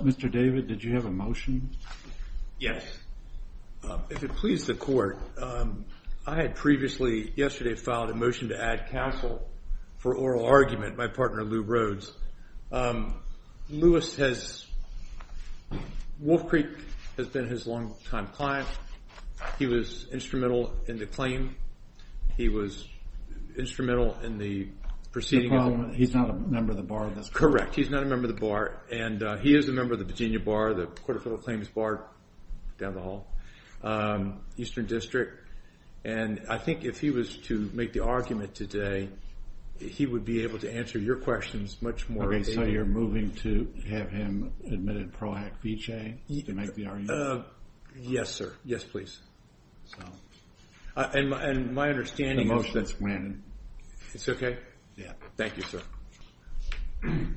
Mr. David, did you have a motion? Yes. If it pleases the court, I had previously yesterday filed a motion to add counsel for oral argument by partner Lou Rhodes. Lewis has, Wolf Creek has been his long-time client. He was instrumental in the claim. He was instrumental in the proceeding. He's not a member of the bar? Correct. He's not a member of the bar. And he is a member of the Virginia Bar, the Court of Federal Claims Bar down the hall, Eastern District. And I think if he was to make the argument today, he would be able to answer your questions much more. Okay, so you're moving to have him admitted Pro Act VJ to make the argument? Yes, sir. Yes, please. And my understanding... The motion's granted. It's okay? Yeah. Thank you, sir.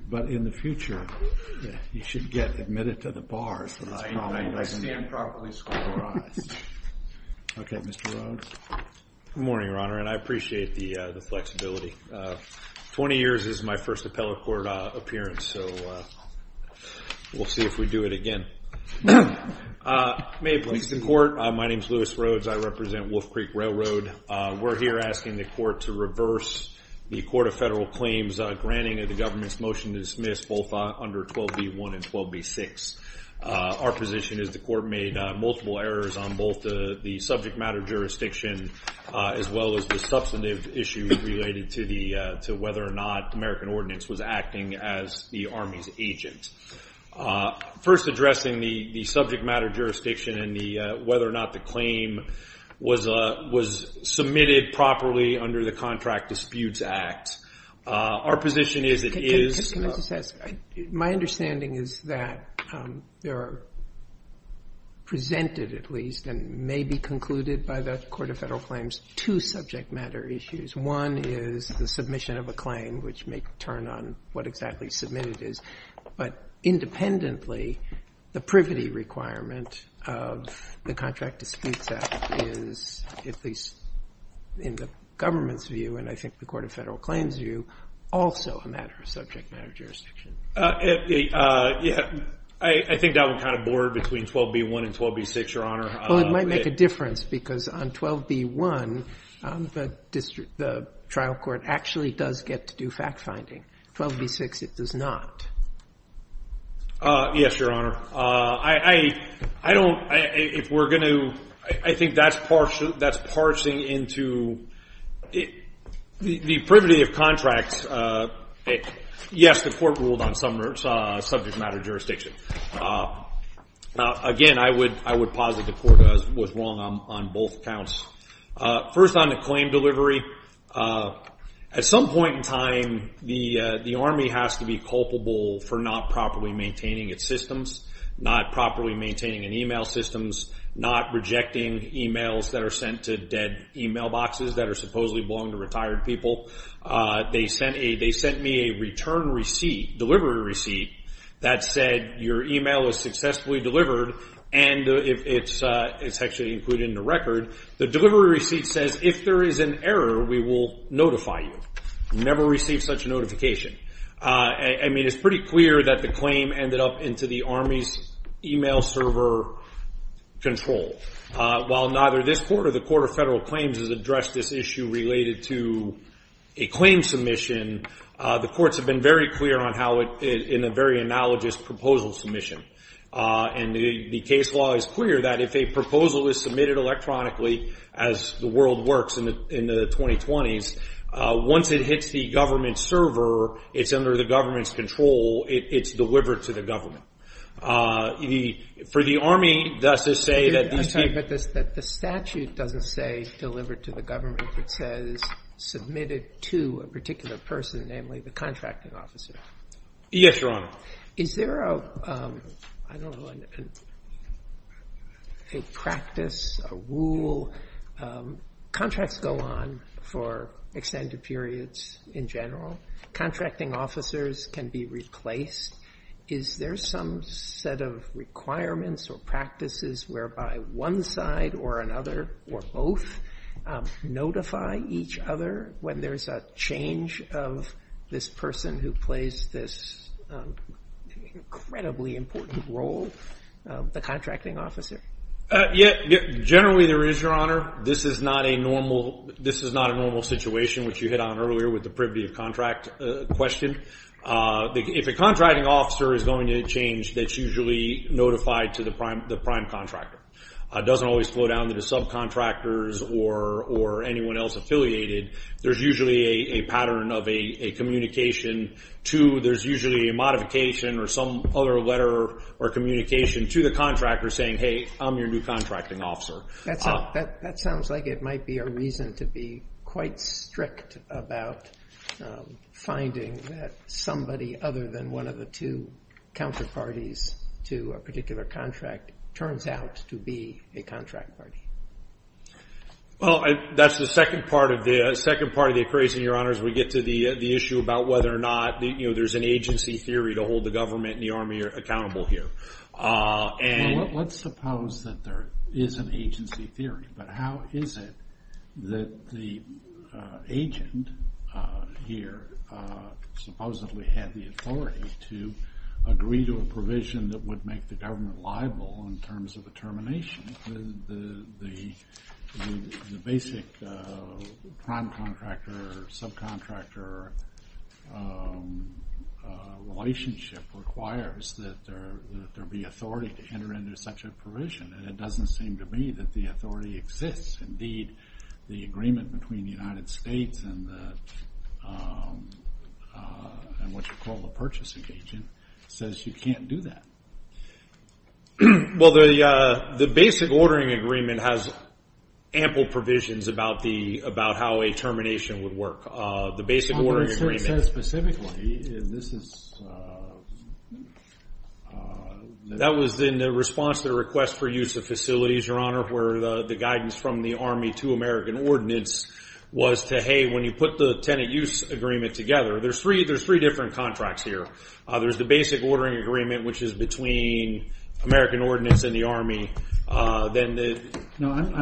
But in the future, you should get admitted to the bar. I stand properly scorned. Okay, Mr. Rhodes. Good morning, Your Honor, and I appreciate the flexibility. 20 years is my first appellate court appearance, so we'll see if we do it again. May it please the court. My name's Lewis Rhodes. I represent Wolf Creek Railroad. We're here asking the court to reverse the Court of Federal Claims' granting of the government's motion to dismiss both under 12b1 and 12b6. Our position is the court made multiple errors on both the subject matter jurisdiction as well as the substantive issue related to whether or not American Ordinance was acting as the Army's agent. First, addressing the subject matter jurisdiction and whether or not the claim was submitted properly under the Contract Disputes Act, our position is it is... My understanding is that there are presented, at least, and may be by the Court of Federal Claims, two subject matter issues. One is the submission of a claim, which may turn on what exactly submitted is. But independently, the privity requirement of the Contract Disputes Act is, at least in the government's view, and I think the Court of Federal Claims' view, also a matter of subject matter jurisdiction. I think that would kind of border between 12b1 and 12b6, Your Honor. Well, it might make a difference because on 12b1, the trial court actually does get to do fact-finding. 12b6, it does not. Yes, Your Honor. I don't... If we're going to... I think that's parsing into... The privity of contracts... Yes, the Court ruled on subject matter jurisdiction. Again, I would posit the Court was wrong on both counts. First, on the claim delivery, at some point in time, the Army has to be culpable for not properly maintaining its systems, not properly maintaining an email system, not rejecting emails that are sent to dead email boxes that are supposedly belonging to retired people. They sent me a return receipt, delivery receipt, that said your email was successfully delivered, and it's actually included in the record. The delivery receipt says, if there is an error, we will notify you. Never receive such a notification. I mean, it's pretty clear that the claim ended up into the Army's email server control. While neither this Court or the Court of Federal Claims has addressed this issue related to a claim submission, the Courts have been very clear on how it... in a very analogous proposal submission. And the case law is clear that if a proposal is submitted electronically, as the world works in the 2020s, once it hits the government server, it's under the government's control, it's delivered to the government. For the Army, that's to say that these people... But the statute doesn't say delivered to the government. It says submitted to a particular person, namely the contracting officer. Yes, Your Honor. Is there a, I don't know, a practice, a rule, contracts go on for extended periods in general. Contracting officers can be replaced. Is there some set of requirements or practices whereby one side or another or both notify each other when there's a change of this person who plays this incredibly important role, the contracting officer? Generally, there is, Your Honor. This is not a normal situation, which you hit on earlier with the privity of contract question. If a contracting officer is going to change, that's usually notified to the prime contractor. It doesn't always flow down to the subcontractors or anyone else affiliated. There's usually a pattern of a communication to... There's usually a modification or some other letter or communication to the contractor saying, hey, I'm your new contracting officer. That sounds like it might be a reason to be quite strict about finding that somebody other than one of the two counterparties to a particular contract turns out to be a contract party. Well, that's the second part of the equation, Your Honor, as we get to the issue about whether or not there's an agency theory to hold the government and the Army accountable here. Let's suppose that there is an agency theory, but how is it that the agent here supposedly had the authority to agree to a provision that would make the government liable in terms of a termination? The basic prime contractor or subcontractor relationship requires that there be authority to enter into such a provision, and it doesn't seem to me that the authority exists. Indeed, the agreement between the United States and what you call the purchasing agent says you can't do that. Well, the basic ordering agreement has ample provisions about how a termination would work. The basic ordering agreement... I'm not sure it says specifically. That was in the response to the request for use of facilities, Your Honor, where the guidance from the Army to American Ordinance was to, hey, when you put the tenant use agreement together, there's three different contracts here. There's the basic ordering agreement, which is between American Ordinance and the Army. I'm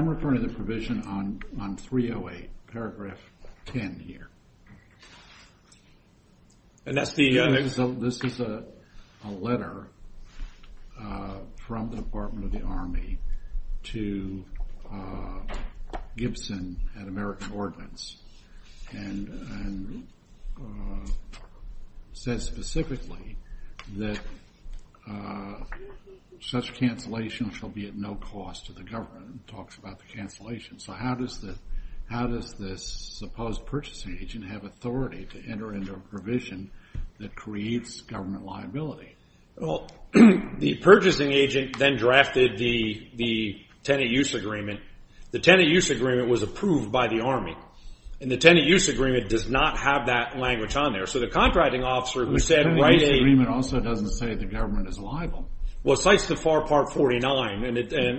referring to the provision on 308, paragraph 10 here. This is a letter from the Department of the Army to Gibson at American Ordinance, and says specifically that such cancellation shall be at no cost to the government. It talks about the cancellation. So how does this supposed purchasing agent have authority to enter into a provision that creates government liability? Well, the purchasing agent then drafted the tenant use agreement. The tenant use agreement was approved by the Army, and the tenant use agreement does not have that language on there. So the contracting officer who said... The tenant use agreement also doesn't say the government is liable. Well, it cites the FAR Part 49,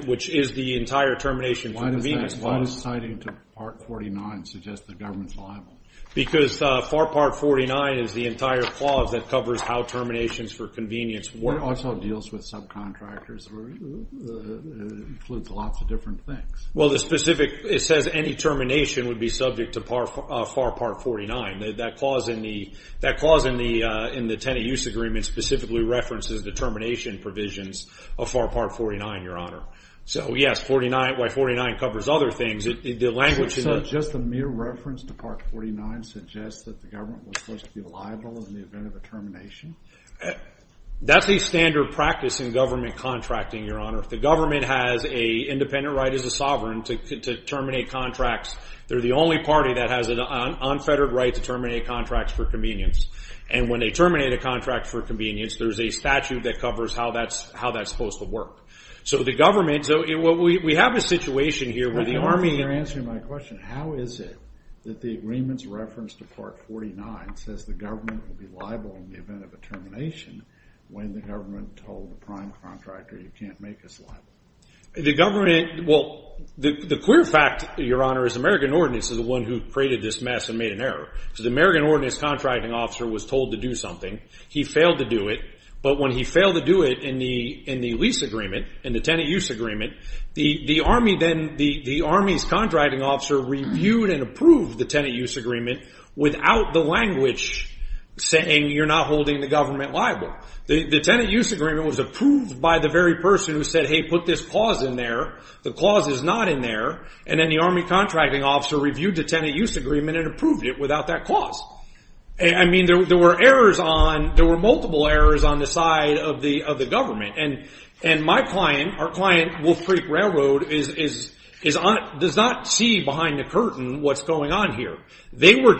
which is the entire termination for convenience clause. Why does citing to Part 49 suggest the government's liable? Because FAR Part 49 is the entire clause that covers how terminations for convenience work. It also deals with subcontractors. It includes lots of different things. Well, the specific... It says any termination would be subject to FAR Part 49. That clause in the tenant use agreement specifically references the termination provisions of FAR Part 49, Your Honor. So yes, why 49 covers other things, the language... So just the mere reference to Part 49 suggests that the government was supposed to be liable in the event of a termination? That's a standard practice in government contracting, Your Honor. If the government has an independent right as a sovereign to terminate contracts, they're the only party that has an unfettered right to terminate contracts for convenience. And when they terminate a contract for convenience, there's a statute that covers how that's supposed to work. So the government... We have a situation here where the Army... You're answering my question. How is it that the agreement's reference to Part 49 says the government will be liable in the event of a termination when the government told the prime contractor you can't make us liable? The government... Well, the clear fact, Your Honor, is American Ordnance is the one who created this mess and made an error. So the American Ordnance contracting officer was told to do something. He failed to do it. But when he failed to do it in the lease agreement, in the tenant use agreement, the Army then... The Army's contracting officer reviewed and approved the tenant use agreement without the language saying you're not holding the government liable. The tenant use agreement was approved by the very person who said, hey, put this clause in there. The clause is not in there. And then the Army contracting officer reviewed the tenant use agreement and approved it without that clause. I mean, there were errors on... There were multiple errors on the side of the government. And my client, our client, Wolf Creek Railroad, does not see behind the curtain what's going on here. They were...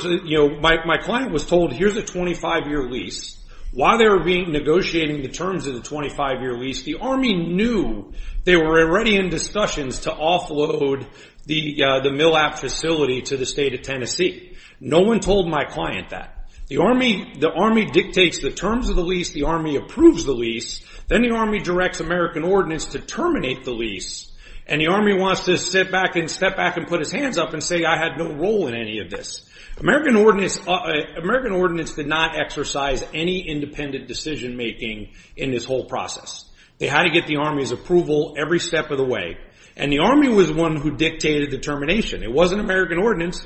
My client was told here's a 25-year lease. While they were negotiating the terms of the 25-year lease, the Army knew they were already in discussions to offload the mill app facility to the state of Tennessee. No one told my client that. The Army dictates the terms of the lease. The Army approves the lease. Then the Army directs American Ordinance to terminate the lease. And the Army wants to step back and put his hands up and say I had no role in any of this. American Ordinance did not exercise any independent decision-making in this whole process. They had to get the Army's approval every step of the way. And the Army was the one who dictated the termination. It wasn't American Ordinance.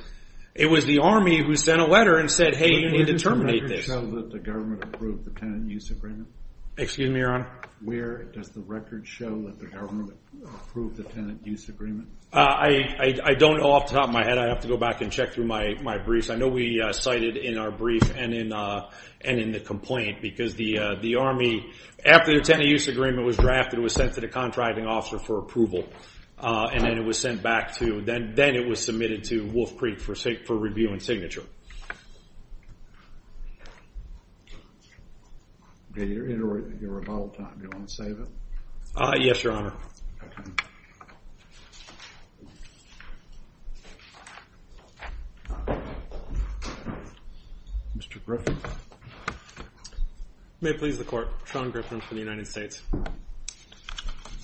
It was the Army who sent a letter and said, hey, you need to terminate this. Does the record show that the government approved the tenant use agreement? Excuse me, Your Honor? Where does the record show that the government approved the tenant use agreement? I don't know off the top of my head. I have to go back and check through my briefs. I know we cited in our brief and in the complaint because the Army, after the tenant use agreement was drafted, was sent to the contracting officer for approval. And then it was sent back to... Then it was submitted to Wolf Creek for review and signature. Your rebuttal time, do you want to save it? Yes, Your Honor. Mr. Griffin? May it please the Court. Sean Griffin for the United States.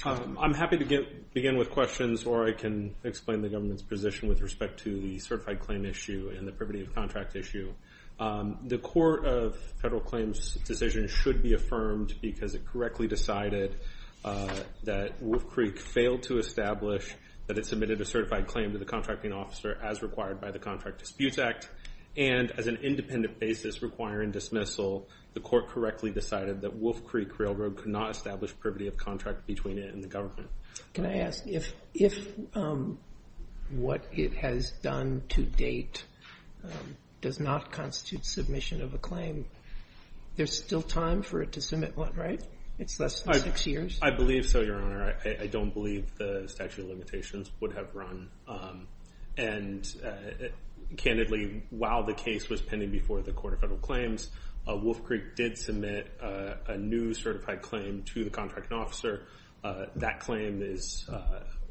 I'm happy to begin with questions or I can explain the government's position with respect to the certified claim issue and the privity of contract issue. The court of federal claims decision should be affirmed because it correctly decided that Wolf Creek failed to establish that it submitted a certified claim to the contracting officer as required by the Contract Disputes Act. And as an independent basis requiring dismissal, the court correctly decided that Wolf Creek Railroad could not establish privity of contract between it and the government. Can I ask if what it has done to date does not constitute submission of a claim, there's still time for it to submit one, right? It's less than six years? I believe so, Your Honor. I don't believe the statute of limitations would have run. And candidly, while the case was pending before the court of federal claims, Wolf Creek did submit a new certified claim to the contracting officer. That claim is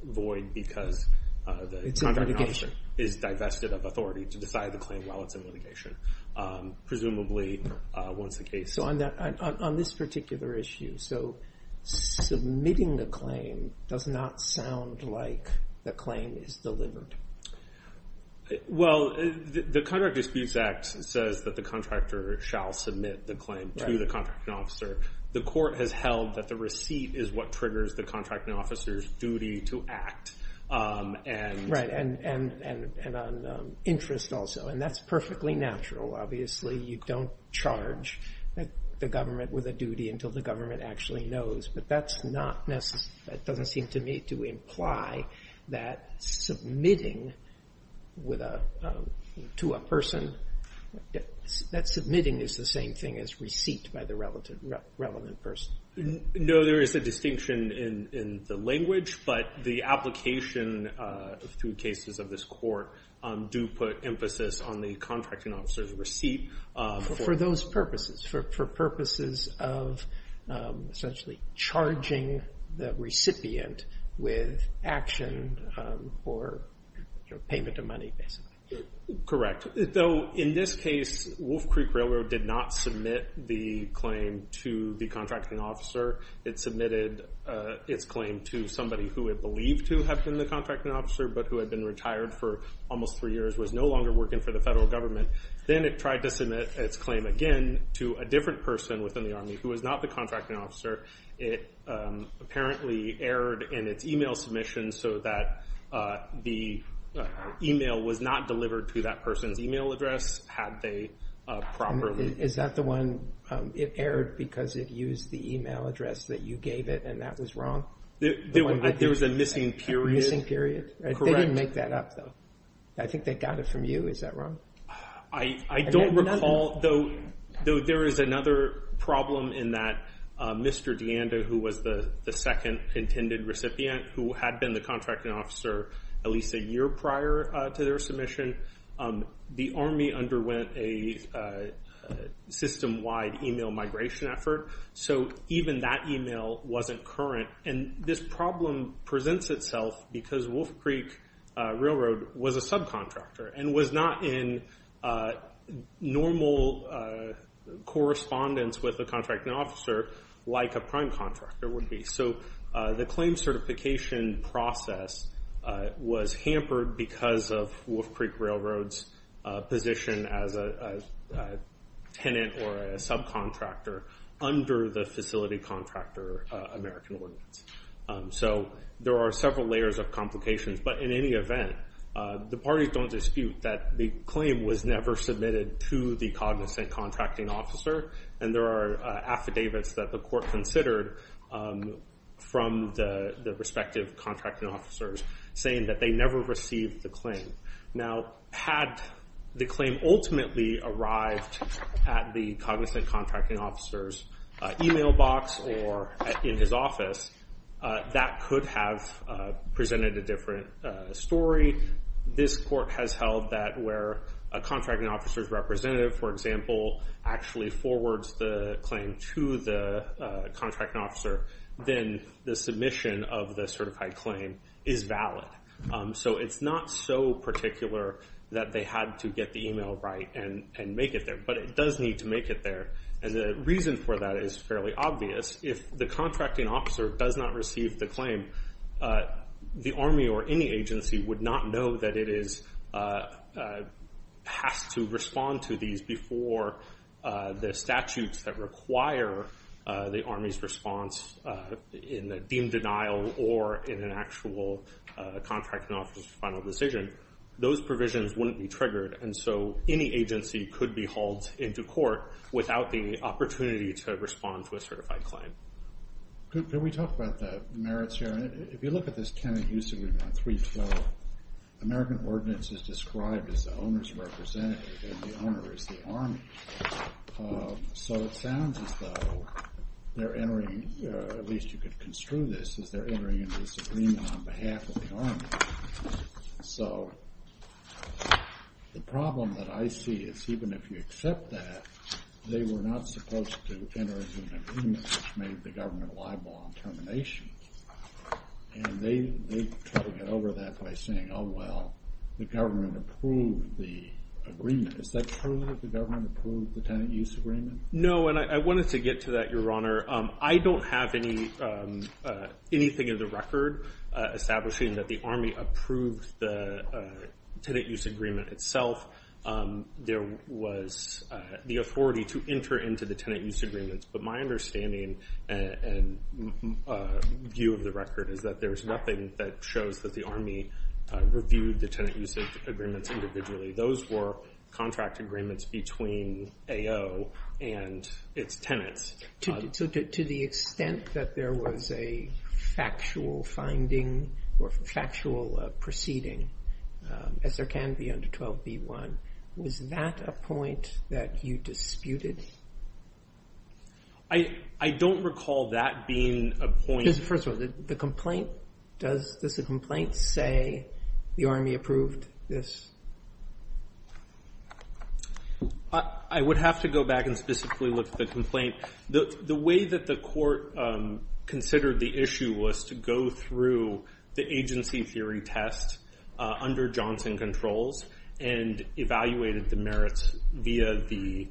void because the contracting officer is divested of authority to decide the claim while it's in litigation. Presumably, once the case... So on this particular issue, submitting the claim does not sound like the claim is delivered. Well, the Contract Disputes Act says that the contractor shall submit the claim to the contracting officer. The court has held that the receipt is what triggers the contracting officer's duty to act. Right, and on interest also. And that's perfectly natural. Obviously, you don't charge the government with a duty until the government actually knows. But that doesn't seem to imply that submitting to a person, that submitting is the same thing as receipt by the relevant person. No, there is a distinction in the language, but the application through cases of this court do put emphasis on the contracting officer's receipt. For those purposes, for purposes of essentially charging the recipient with action or payment of money, basically. Correct. Though, in this case, Wolf Creek Railroad did not submit the claim to the contracting officer. It submitted its claim to somebody who it believed to have been the contracting officer but who had been retired for almost three years, was no longer working for the federal government. Then it tried to submit its claim again to a different person within the Army who was not the contracting officer. It apparently erred in its email submission so that the email was not delivered to that person's email address had they properly... Is that the one, it erred because it used the email address that you gave it and that was wrong? There was a missing period. They didn't make that up though. I think they got it from you, is that wrong? I don't recall, though there is another problem in that Mr. DeAnda, who was the second intended recipient, who had been the contracting officer at least a year prior to their submission, the Army underwent a system-wide email migration effort so even that email wasn't current. This problem presents itself because Wolf Creek Railroad was a subcontractor and was not in normal correspondence with the contracting officer like a prime contractor would be. The claim certification process was hampered because of Wolf Creek Railroad's position as a tenant or a subcontractor under the facility contractor American Ordinance. There are several layers of complications but in any event, the parties don't dispute that the claim was never submitted to the cognizant contracting officer and there are affidavits that the court considered from the respective contracting officers saying that they never received the claim. Now, had the claim ultimately arrived at the cognizant contracting officer's email box or in his office, that could have presented a different story. This court has held that where a contracting officer's representative, for example, actually forwards the claim to the contracting officer, then the submission of the certified claim is valid. It's not so particular that they had to get the email right and make it there, but it does need to make it there. The reason for that is fairly obvious. If the contracting officer does not receive the claim, the Army or any agency would not know that it has to respond to these before the statutes that require the Army's response in the deemed denial or in an actual contracting officer's final decision. Those provisions wouldn't be triggered and so any agency could be hauled into court without the opportunity to respond to a certified claim. Can we talk about the merits here? If you look at this tenant use agreement on 312, the American ordinance is described as the owner's representative and the owner is the Army. So it sounds as though they're entering at least you could construe this as they're entering into this agreement on behalf of the Army. So, the problem that I see is even if you accept that, they were not supposed to enter into an agreement which made the government liable on termination. And they're cutting it over that by saying, oh well, the government approved the agreement. Is that true that the government approved the tenant use agreement? No, and I wanted to get to that, Your Honor. I don't have anything in the record establishing that the Army approved the tenant use agreement itself. There was the authority to enter into the tenant use agreements. But my understanding and view of the record is that there's nothing that shows that the Army reviewed the tenant use agreements individually. Those were contract agreements between AO and its tenants. So to the extent that there was a factual finding or factual proceeding, as there can be under 12b-1, was that a point that you disputed? I don't recall that being a point. First of all, does the complaint say the Army approved this? I would have to go back and specifically look at the complaint. The way that the court considered the issue was to go through the agency theory test under Johnson Controls and evaluated the merits via the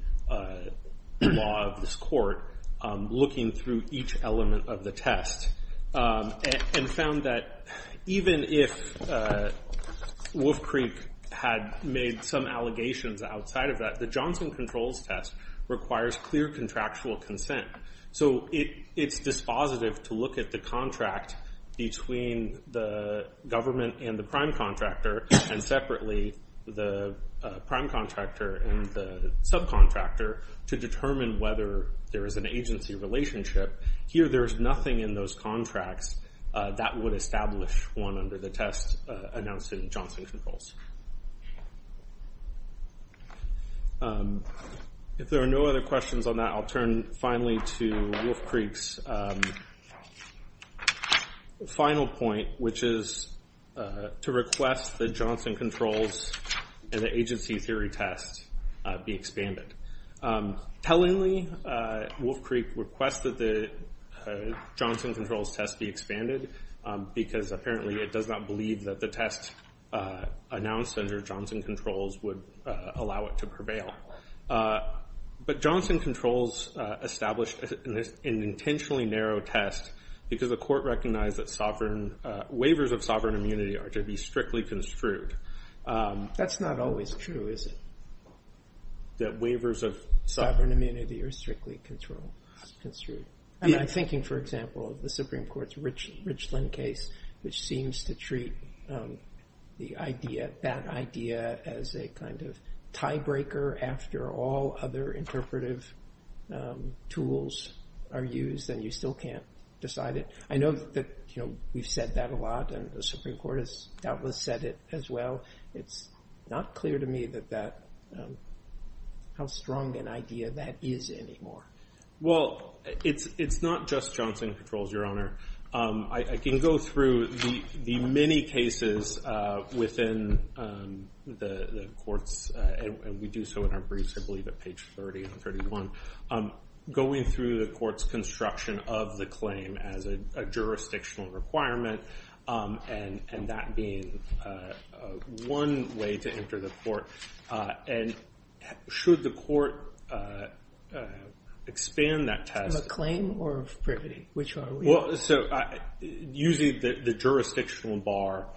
law of this court looking through each element of the test. And found that even if Wolf Creek had made some allegations outside of that, the Johnson Controls test requires clear contractual consent. So it's dispositive to look at the contract between the government and the prime contractor and separately the prime contractor and the subcontractor to determine whether there is an agency relationship. Here there's nothing in those contracts that would establish one under the test announced in Johnson Controls. If there are no other questions on that, I'll turn finally to Wolf Creek's final point, which is to request the Johnson Controls and the agency theory test be expanded. Tellingly, Wolf Creek requested the Johnson Controls test be expanded because apparently it does not believe that the test announced under Johnson Controls would allow it to prevail. But Johnson Controls established an intentionally narrow test because the court recognized that waivers of sovereign immunity are to be strictly construed. That's not always true, is it? That waivers of sovereign immunity are strictly construed. I'm thinking, for example, the Supreme Court's Richland case, which seems to treat that idea as a kind of tiebreaker after all other interpretive tools are used and you still can't decide it. I know that we've said that a lot and the Supreme Court has doubtless said it as well. It's not clear to me that that how strong an idea that is anymore. Well, it's not just Johnson Controls, Your Honor. I can go through the many cases within the courts and we do so in our briefs I believe at page 30 and 31 going through the court's construction of the claim as a jurisdictional requirement and that being one way to enter the court. Should the court expand that test of a claim or of privity? Which are we? Using the jurisdictional bar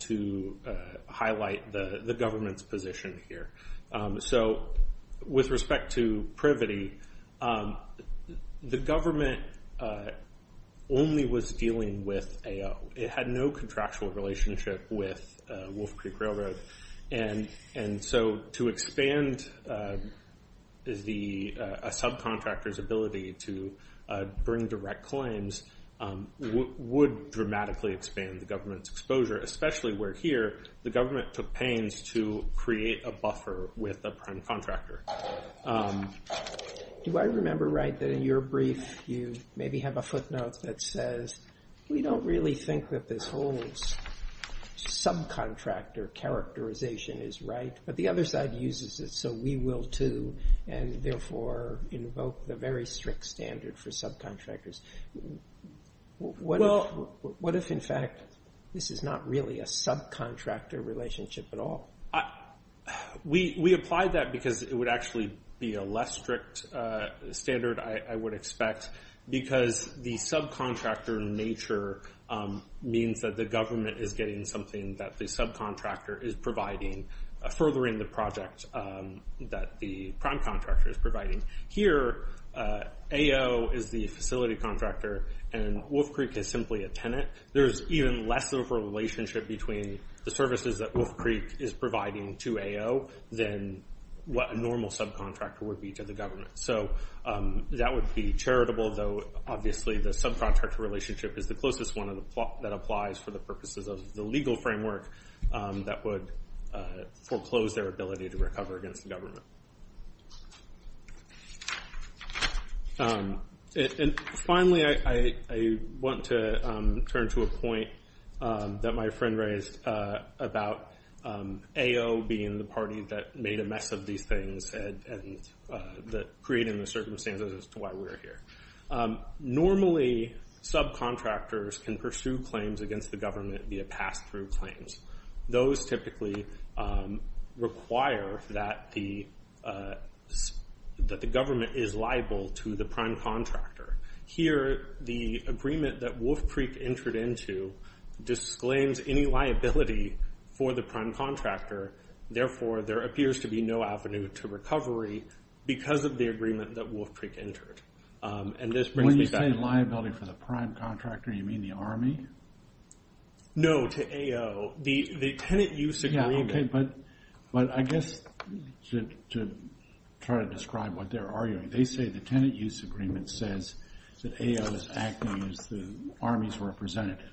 to highlight the government's position here. With respect to privity, the government only was dealing with AO. It had no contractual relationship with Wolf Creek Railroad and so to expand a subcontractor's ability to bring direct claims would dramatically expand the government's exposure, especially where here the government took pains to create a buffer with a prime contractor. Do I remember right that in your brief you maybe have a footnote that says, we don't really think that this whole subcontractor characterization is right, but the other side uses it so we will too and therefore invoke the very strict standard for subcontractors. What if in fact this is not really a subcontractor relationship at all? We apply that because it would actually be a less strict standard, I would expect because the subcontractor nature means that the government is getting something that the subcontractor is providing furthering the project that the prime contractor is providing. Here AO is the facility contractor and Wolf Creek is simply a tenant. There is even less of a relationship between the services that Wolf Creek is providing to AO than what a normal subcontractor would be to the government. That would be charitable though obviously the subcontractor relationship is the closest one that applies for the purposes of the legal framework that would foreclose their ability to recover against the government. Finally I want to turn to a point that my friend raised about AO being the party that made a mess of these things and creating the circumstances as to why we are here. Normally subcontractors can pursue claims against the government via pass-through claims. Those typically require that the government is liable to the prime contractor. Here the agreement that Wolf Creek entered into disclaims any liability for the prime contractor therefore there appears to be no avenue to recovery because of the agreement that Wolf Creek entered. When you say liability for the prime contractor you mean the army? No to AO. The tenant use agreement... I guess to try to describe what they're arguing they say the tenant use agreement says that AO is acting as the army's representative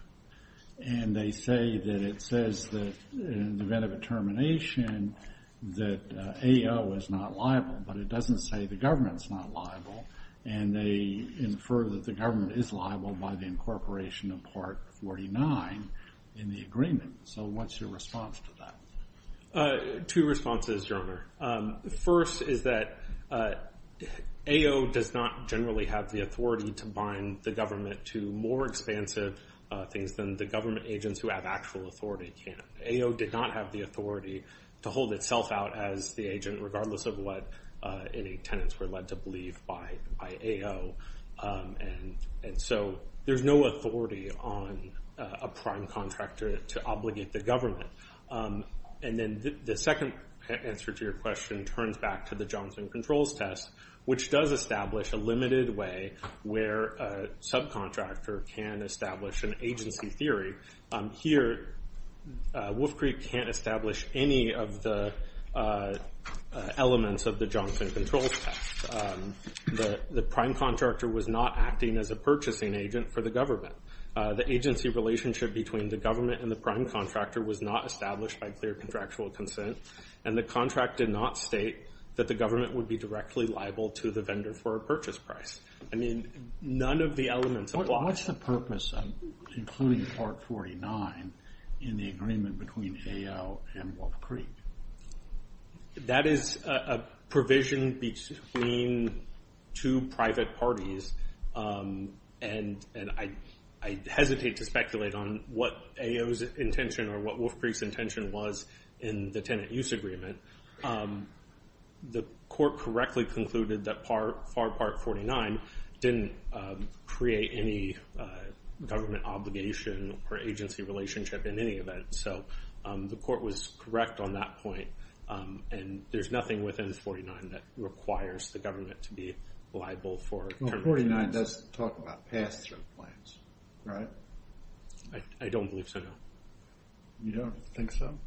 and they say that it says that in the event of a termination that AO is not liable but it doesn't say the government is not liable and they infer that the government is liable by the incorporation of Part 49 in the agreement. So what's your response to that? Two responses Your Honor. First is that AO does not generally have the authority to bind the government to more expansive things than the government agents who have actual authority can. AO did not have the authority to hold itself out as the agent regardless of what any tenants were led to believe by AO. There's no authority on a prime contractor to obligate the government. The second answer to your question turns back to the Johnson Controls Test which does establish a limited way where a subcontractor can establish an agency theory. Here Wolf Creek can't establish any of the elements of the Johnson Controls Test. The prime contractor was not acting as a purchasing agent for the government. The agency relationship between the government and the prime contractor was not established by clear contractual consent and the contract did not state that the government would be directly liable to the vendor for a purchase price. None of the elements of the contract What's the purpose of including Part 49 in the agreement between AO and Wolf Creek? That is a provision between two private parties and I hesitate to speculate on what AO's intention or what Wolf Creek's intention was in the tenant use agreement. The court correctly concluded that Part 49 didn't create any government obligation or agency relationship in any event. The court was correct on that point and there's nothing within 49 that requires the government to be liable for termination. 49 doesn't talk about pass-through claims, right? I don't believe so, no. You don't think so?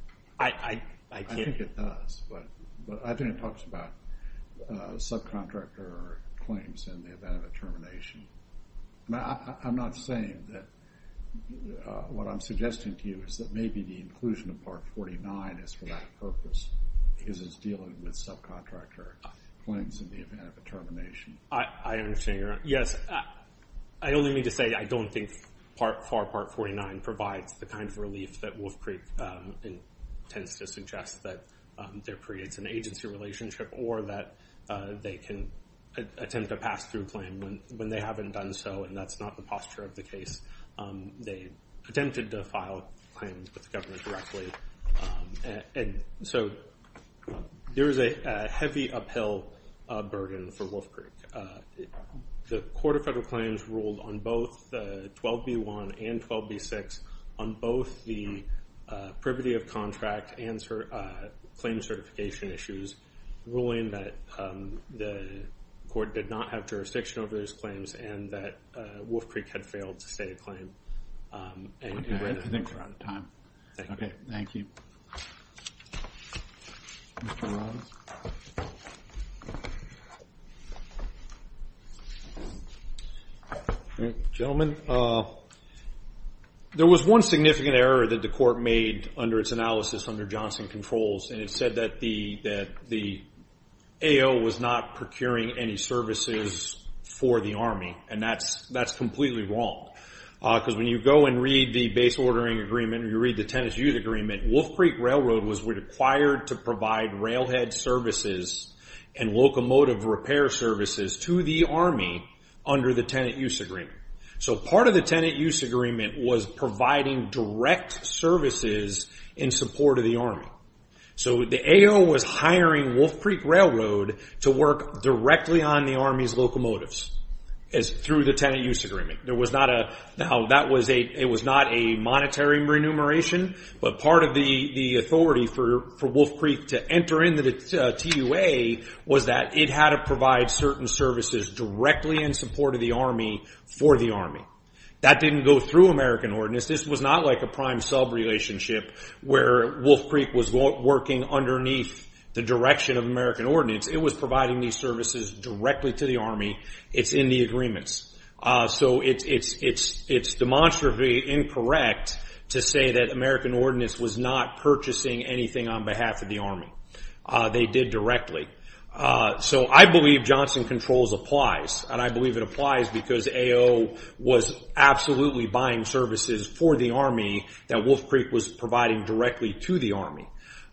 I think it does, but I think it talks about subcontractor claims in the event of a termination. I'm not saying that what I'm suggesting to you is that maybe the inclusion of Part 49 is for that purpose because it's dealing with subcontractor claims in the event of a termination. I understand. Yes. I only mean to say I don't think Part 49 provides the kind of relief that Wolf Creek intends to suggest that there creates an agency relationship or that they can attempt a pass-through claim when they haven't done so and that's not the posture of the case. They attempted to file claims with the government directly and so there is a heavy uphill burden for Wolf Creek. The Court of Federal Claims ruled on both 12b1 and 12b6 on both the privity of contract and claim certification issues ruling that the court did not have jurisdiction over those claims and that Wolf Creek had failed to stay a claim. I think we're out of time. Thank you. Gentlemen, there was one significant error that the court made under its analysis under Johnson Controls and it said that the AO was not procuring any services for the Army and that's completely wrong. Because when you go and read the Base Ordering Agreement or you read the Tenant Use Agreement, Wolf Creek Railroad was required to provide railhead services and locomotive repair services to the Army under the Tenant Use Agreement. So part of the Tenant Use Agreement was providing direct services in support of the Army. So the AO was hiring Wolf Creek Railroad to work directly on the Army's locomotives through the Tenant Use Agreement. It was not a monetary remuneration, but part of the authority for Wolf Creek to enter into the TUA was that it had to provide certain services directly in support of the Army for the Army. That didn't go through American Ordinance. This was not like a prime-sub relationship where Wolf Creek was working underneath the direction of American Ordinance. It was providing these services directly to the Army. It's in the agreements. So it's demonstrably incorrect to say that American Ordinance was not purchasing anything on behalf of the Army. They did directly. So I believe Johnson Controls applies, and I believe it applies because AO was absolutely buying services for the Army that Wolf Creek was providing directly to the Army.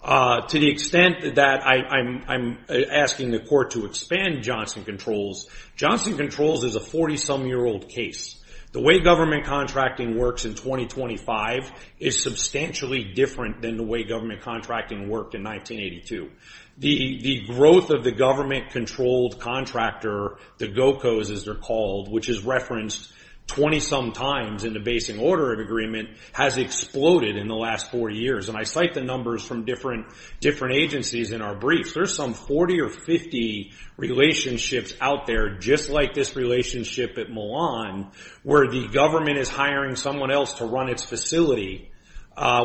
To the extent that I'm asking the Court to expand Johnson Controls, Johnson Controls is a 40-some-year-old case. The way government contracting works in 2025 is substantially different than the way government contracting worked in 1982. The growth of the government-controlled contractor, the GOCOs as they're called, which is referenced 20-some times in the Basin Order of Agreement, has exploded in the last four years. I cite the numbers from different agencies in our briefs. There's some 40 or 50 relationships out there, just like this relationship at Milan where the government is hiring someone else to run its facility,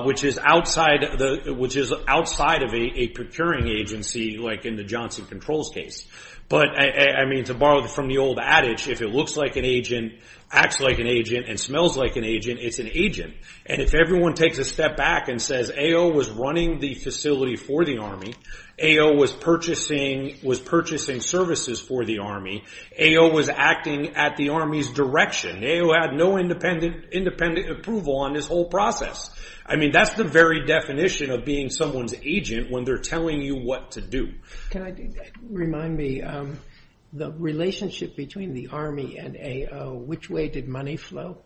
which is outside of a procuring agency like in the Johnson Controls case. But to borrow from the old adage, if it looks like an agent, acts like an agent, and smells like an agent, it's an agent. If everyone takes a step back and says AO was running the facility for the Army, AO was purchasing services for the Army, AO was acting at the Army's direction, AO had no independent approval on this whole process. That's the very definition of being someone's agent when they're telling you what to do. Remind me, the relationship between the Army and AO, which way did money flow?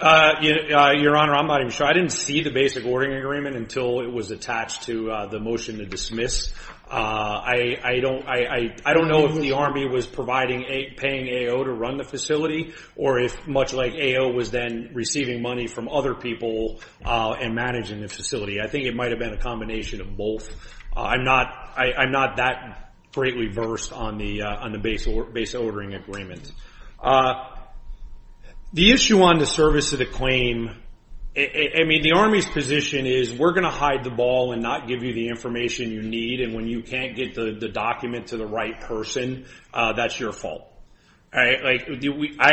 Your Honor, I'm not even sure. I didn't see the basic ordering agreement until it was attached to the motion to dismiss. I don't know if the Army was paying AO to run the facility, or if much like AO was then receiving money from other people and managing the facility. I think it might have been a combination of both. I'm not that greatly versed on the basic ordering agreement. The issue on the service to the claim, the Army's position is we're going to hide the ball and not give you the information you need, and when you can't get the document to the right person, that's your fault. I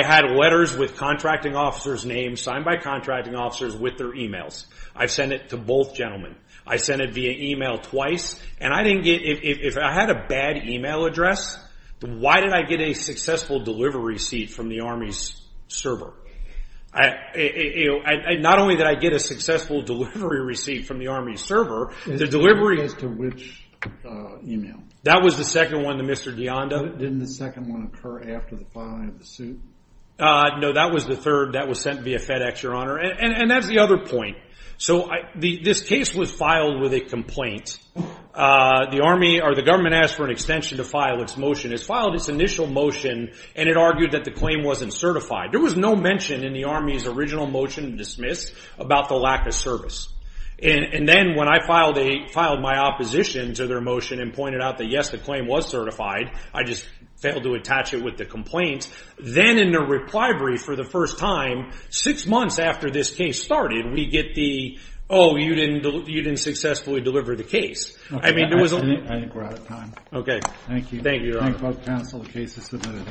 had letters with contracting officers' names signed by contracting officers with their emails. I've sent it to both gentlemen. I've sent it via email twice, and if I had a bad email address, why did I get a successful delivery receipt from the Army's server? Not only did I get a successful delivery receipt from the Army's server, the delivery... It was to which email? That was the second one to Mr. Deonda. Didn't the second one occur after the filing of the suit? No, that was the third. That was sent via FedEx, Your Honor, and that's the other point. This case was filed with a complaint. The Army, or the government, asked for an extension to file its motion. It filed its initial motion, and it argued that the claim wasn't certified. There was no mention in the Army's original motion to dismiss about the lack of service. Then, when I filed my opposition to their motion and pointed out that, yes, the claim was certified, I just failed to attach it with the complaint, then in the reply brief for the first time, six months after this case started, we get the, oh, you didn't successfully deliver the case. I think we're out of time. Thank you. Thank you, Your Honor. The case is submitted.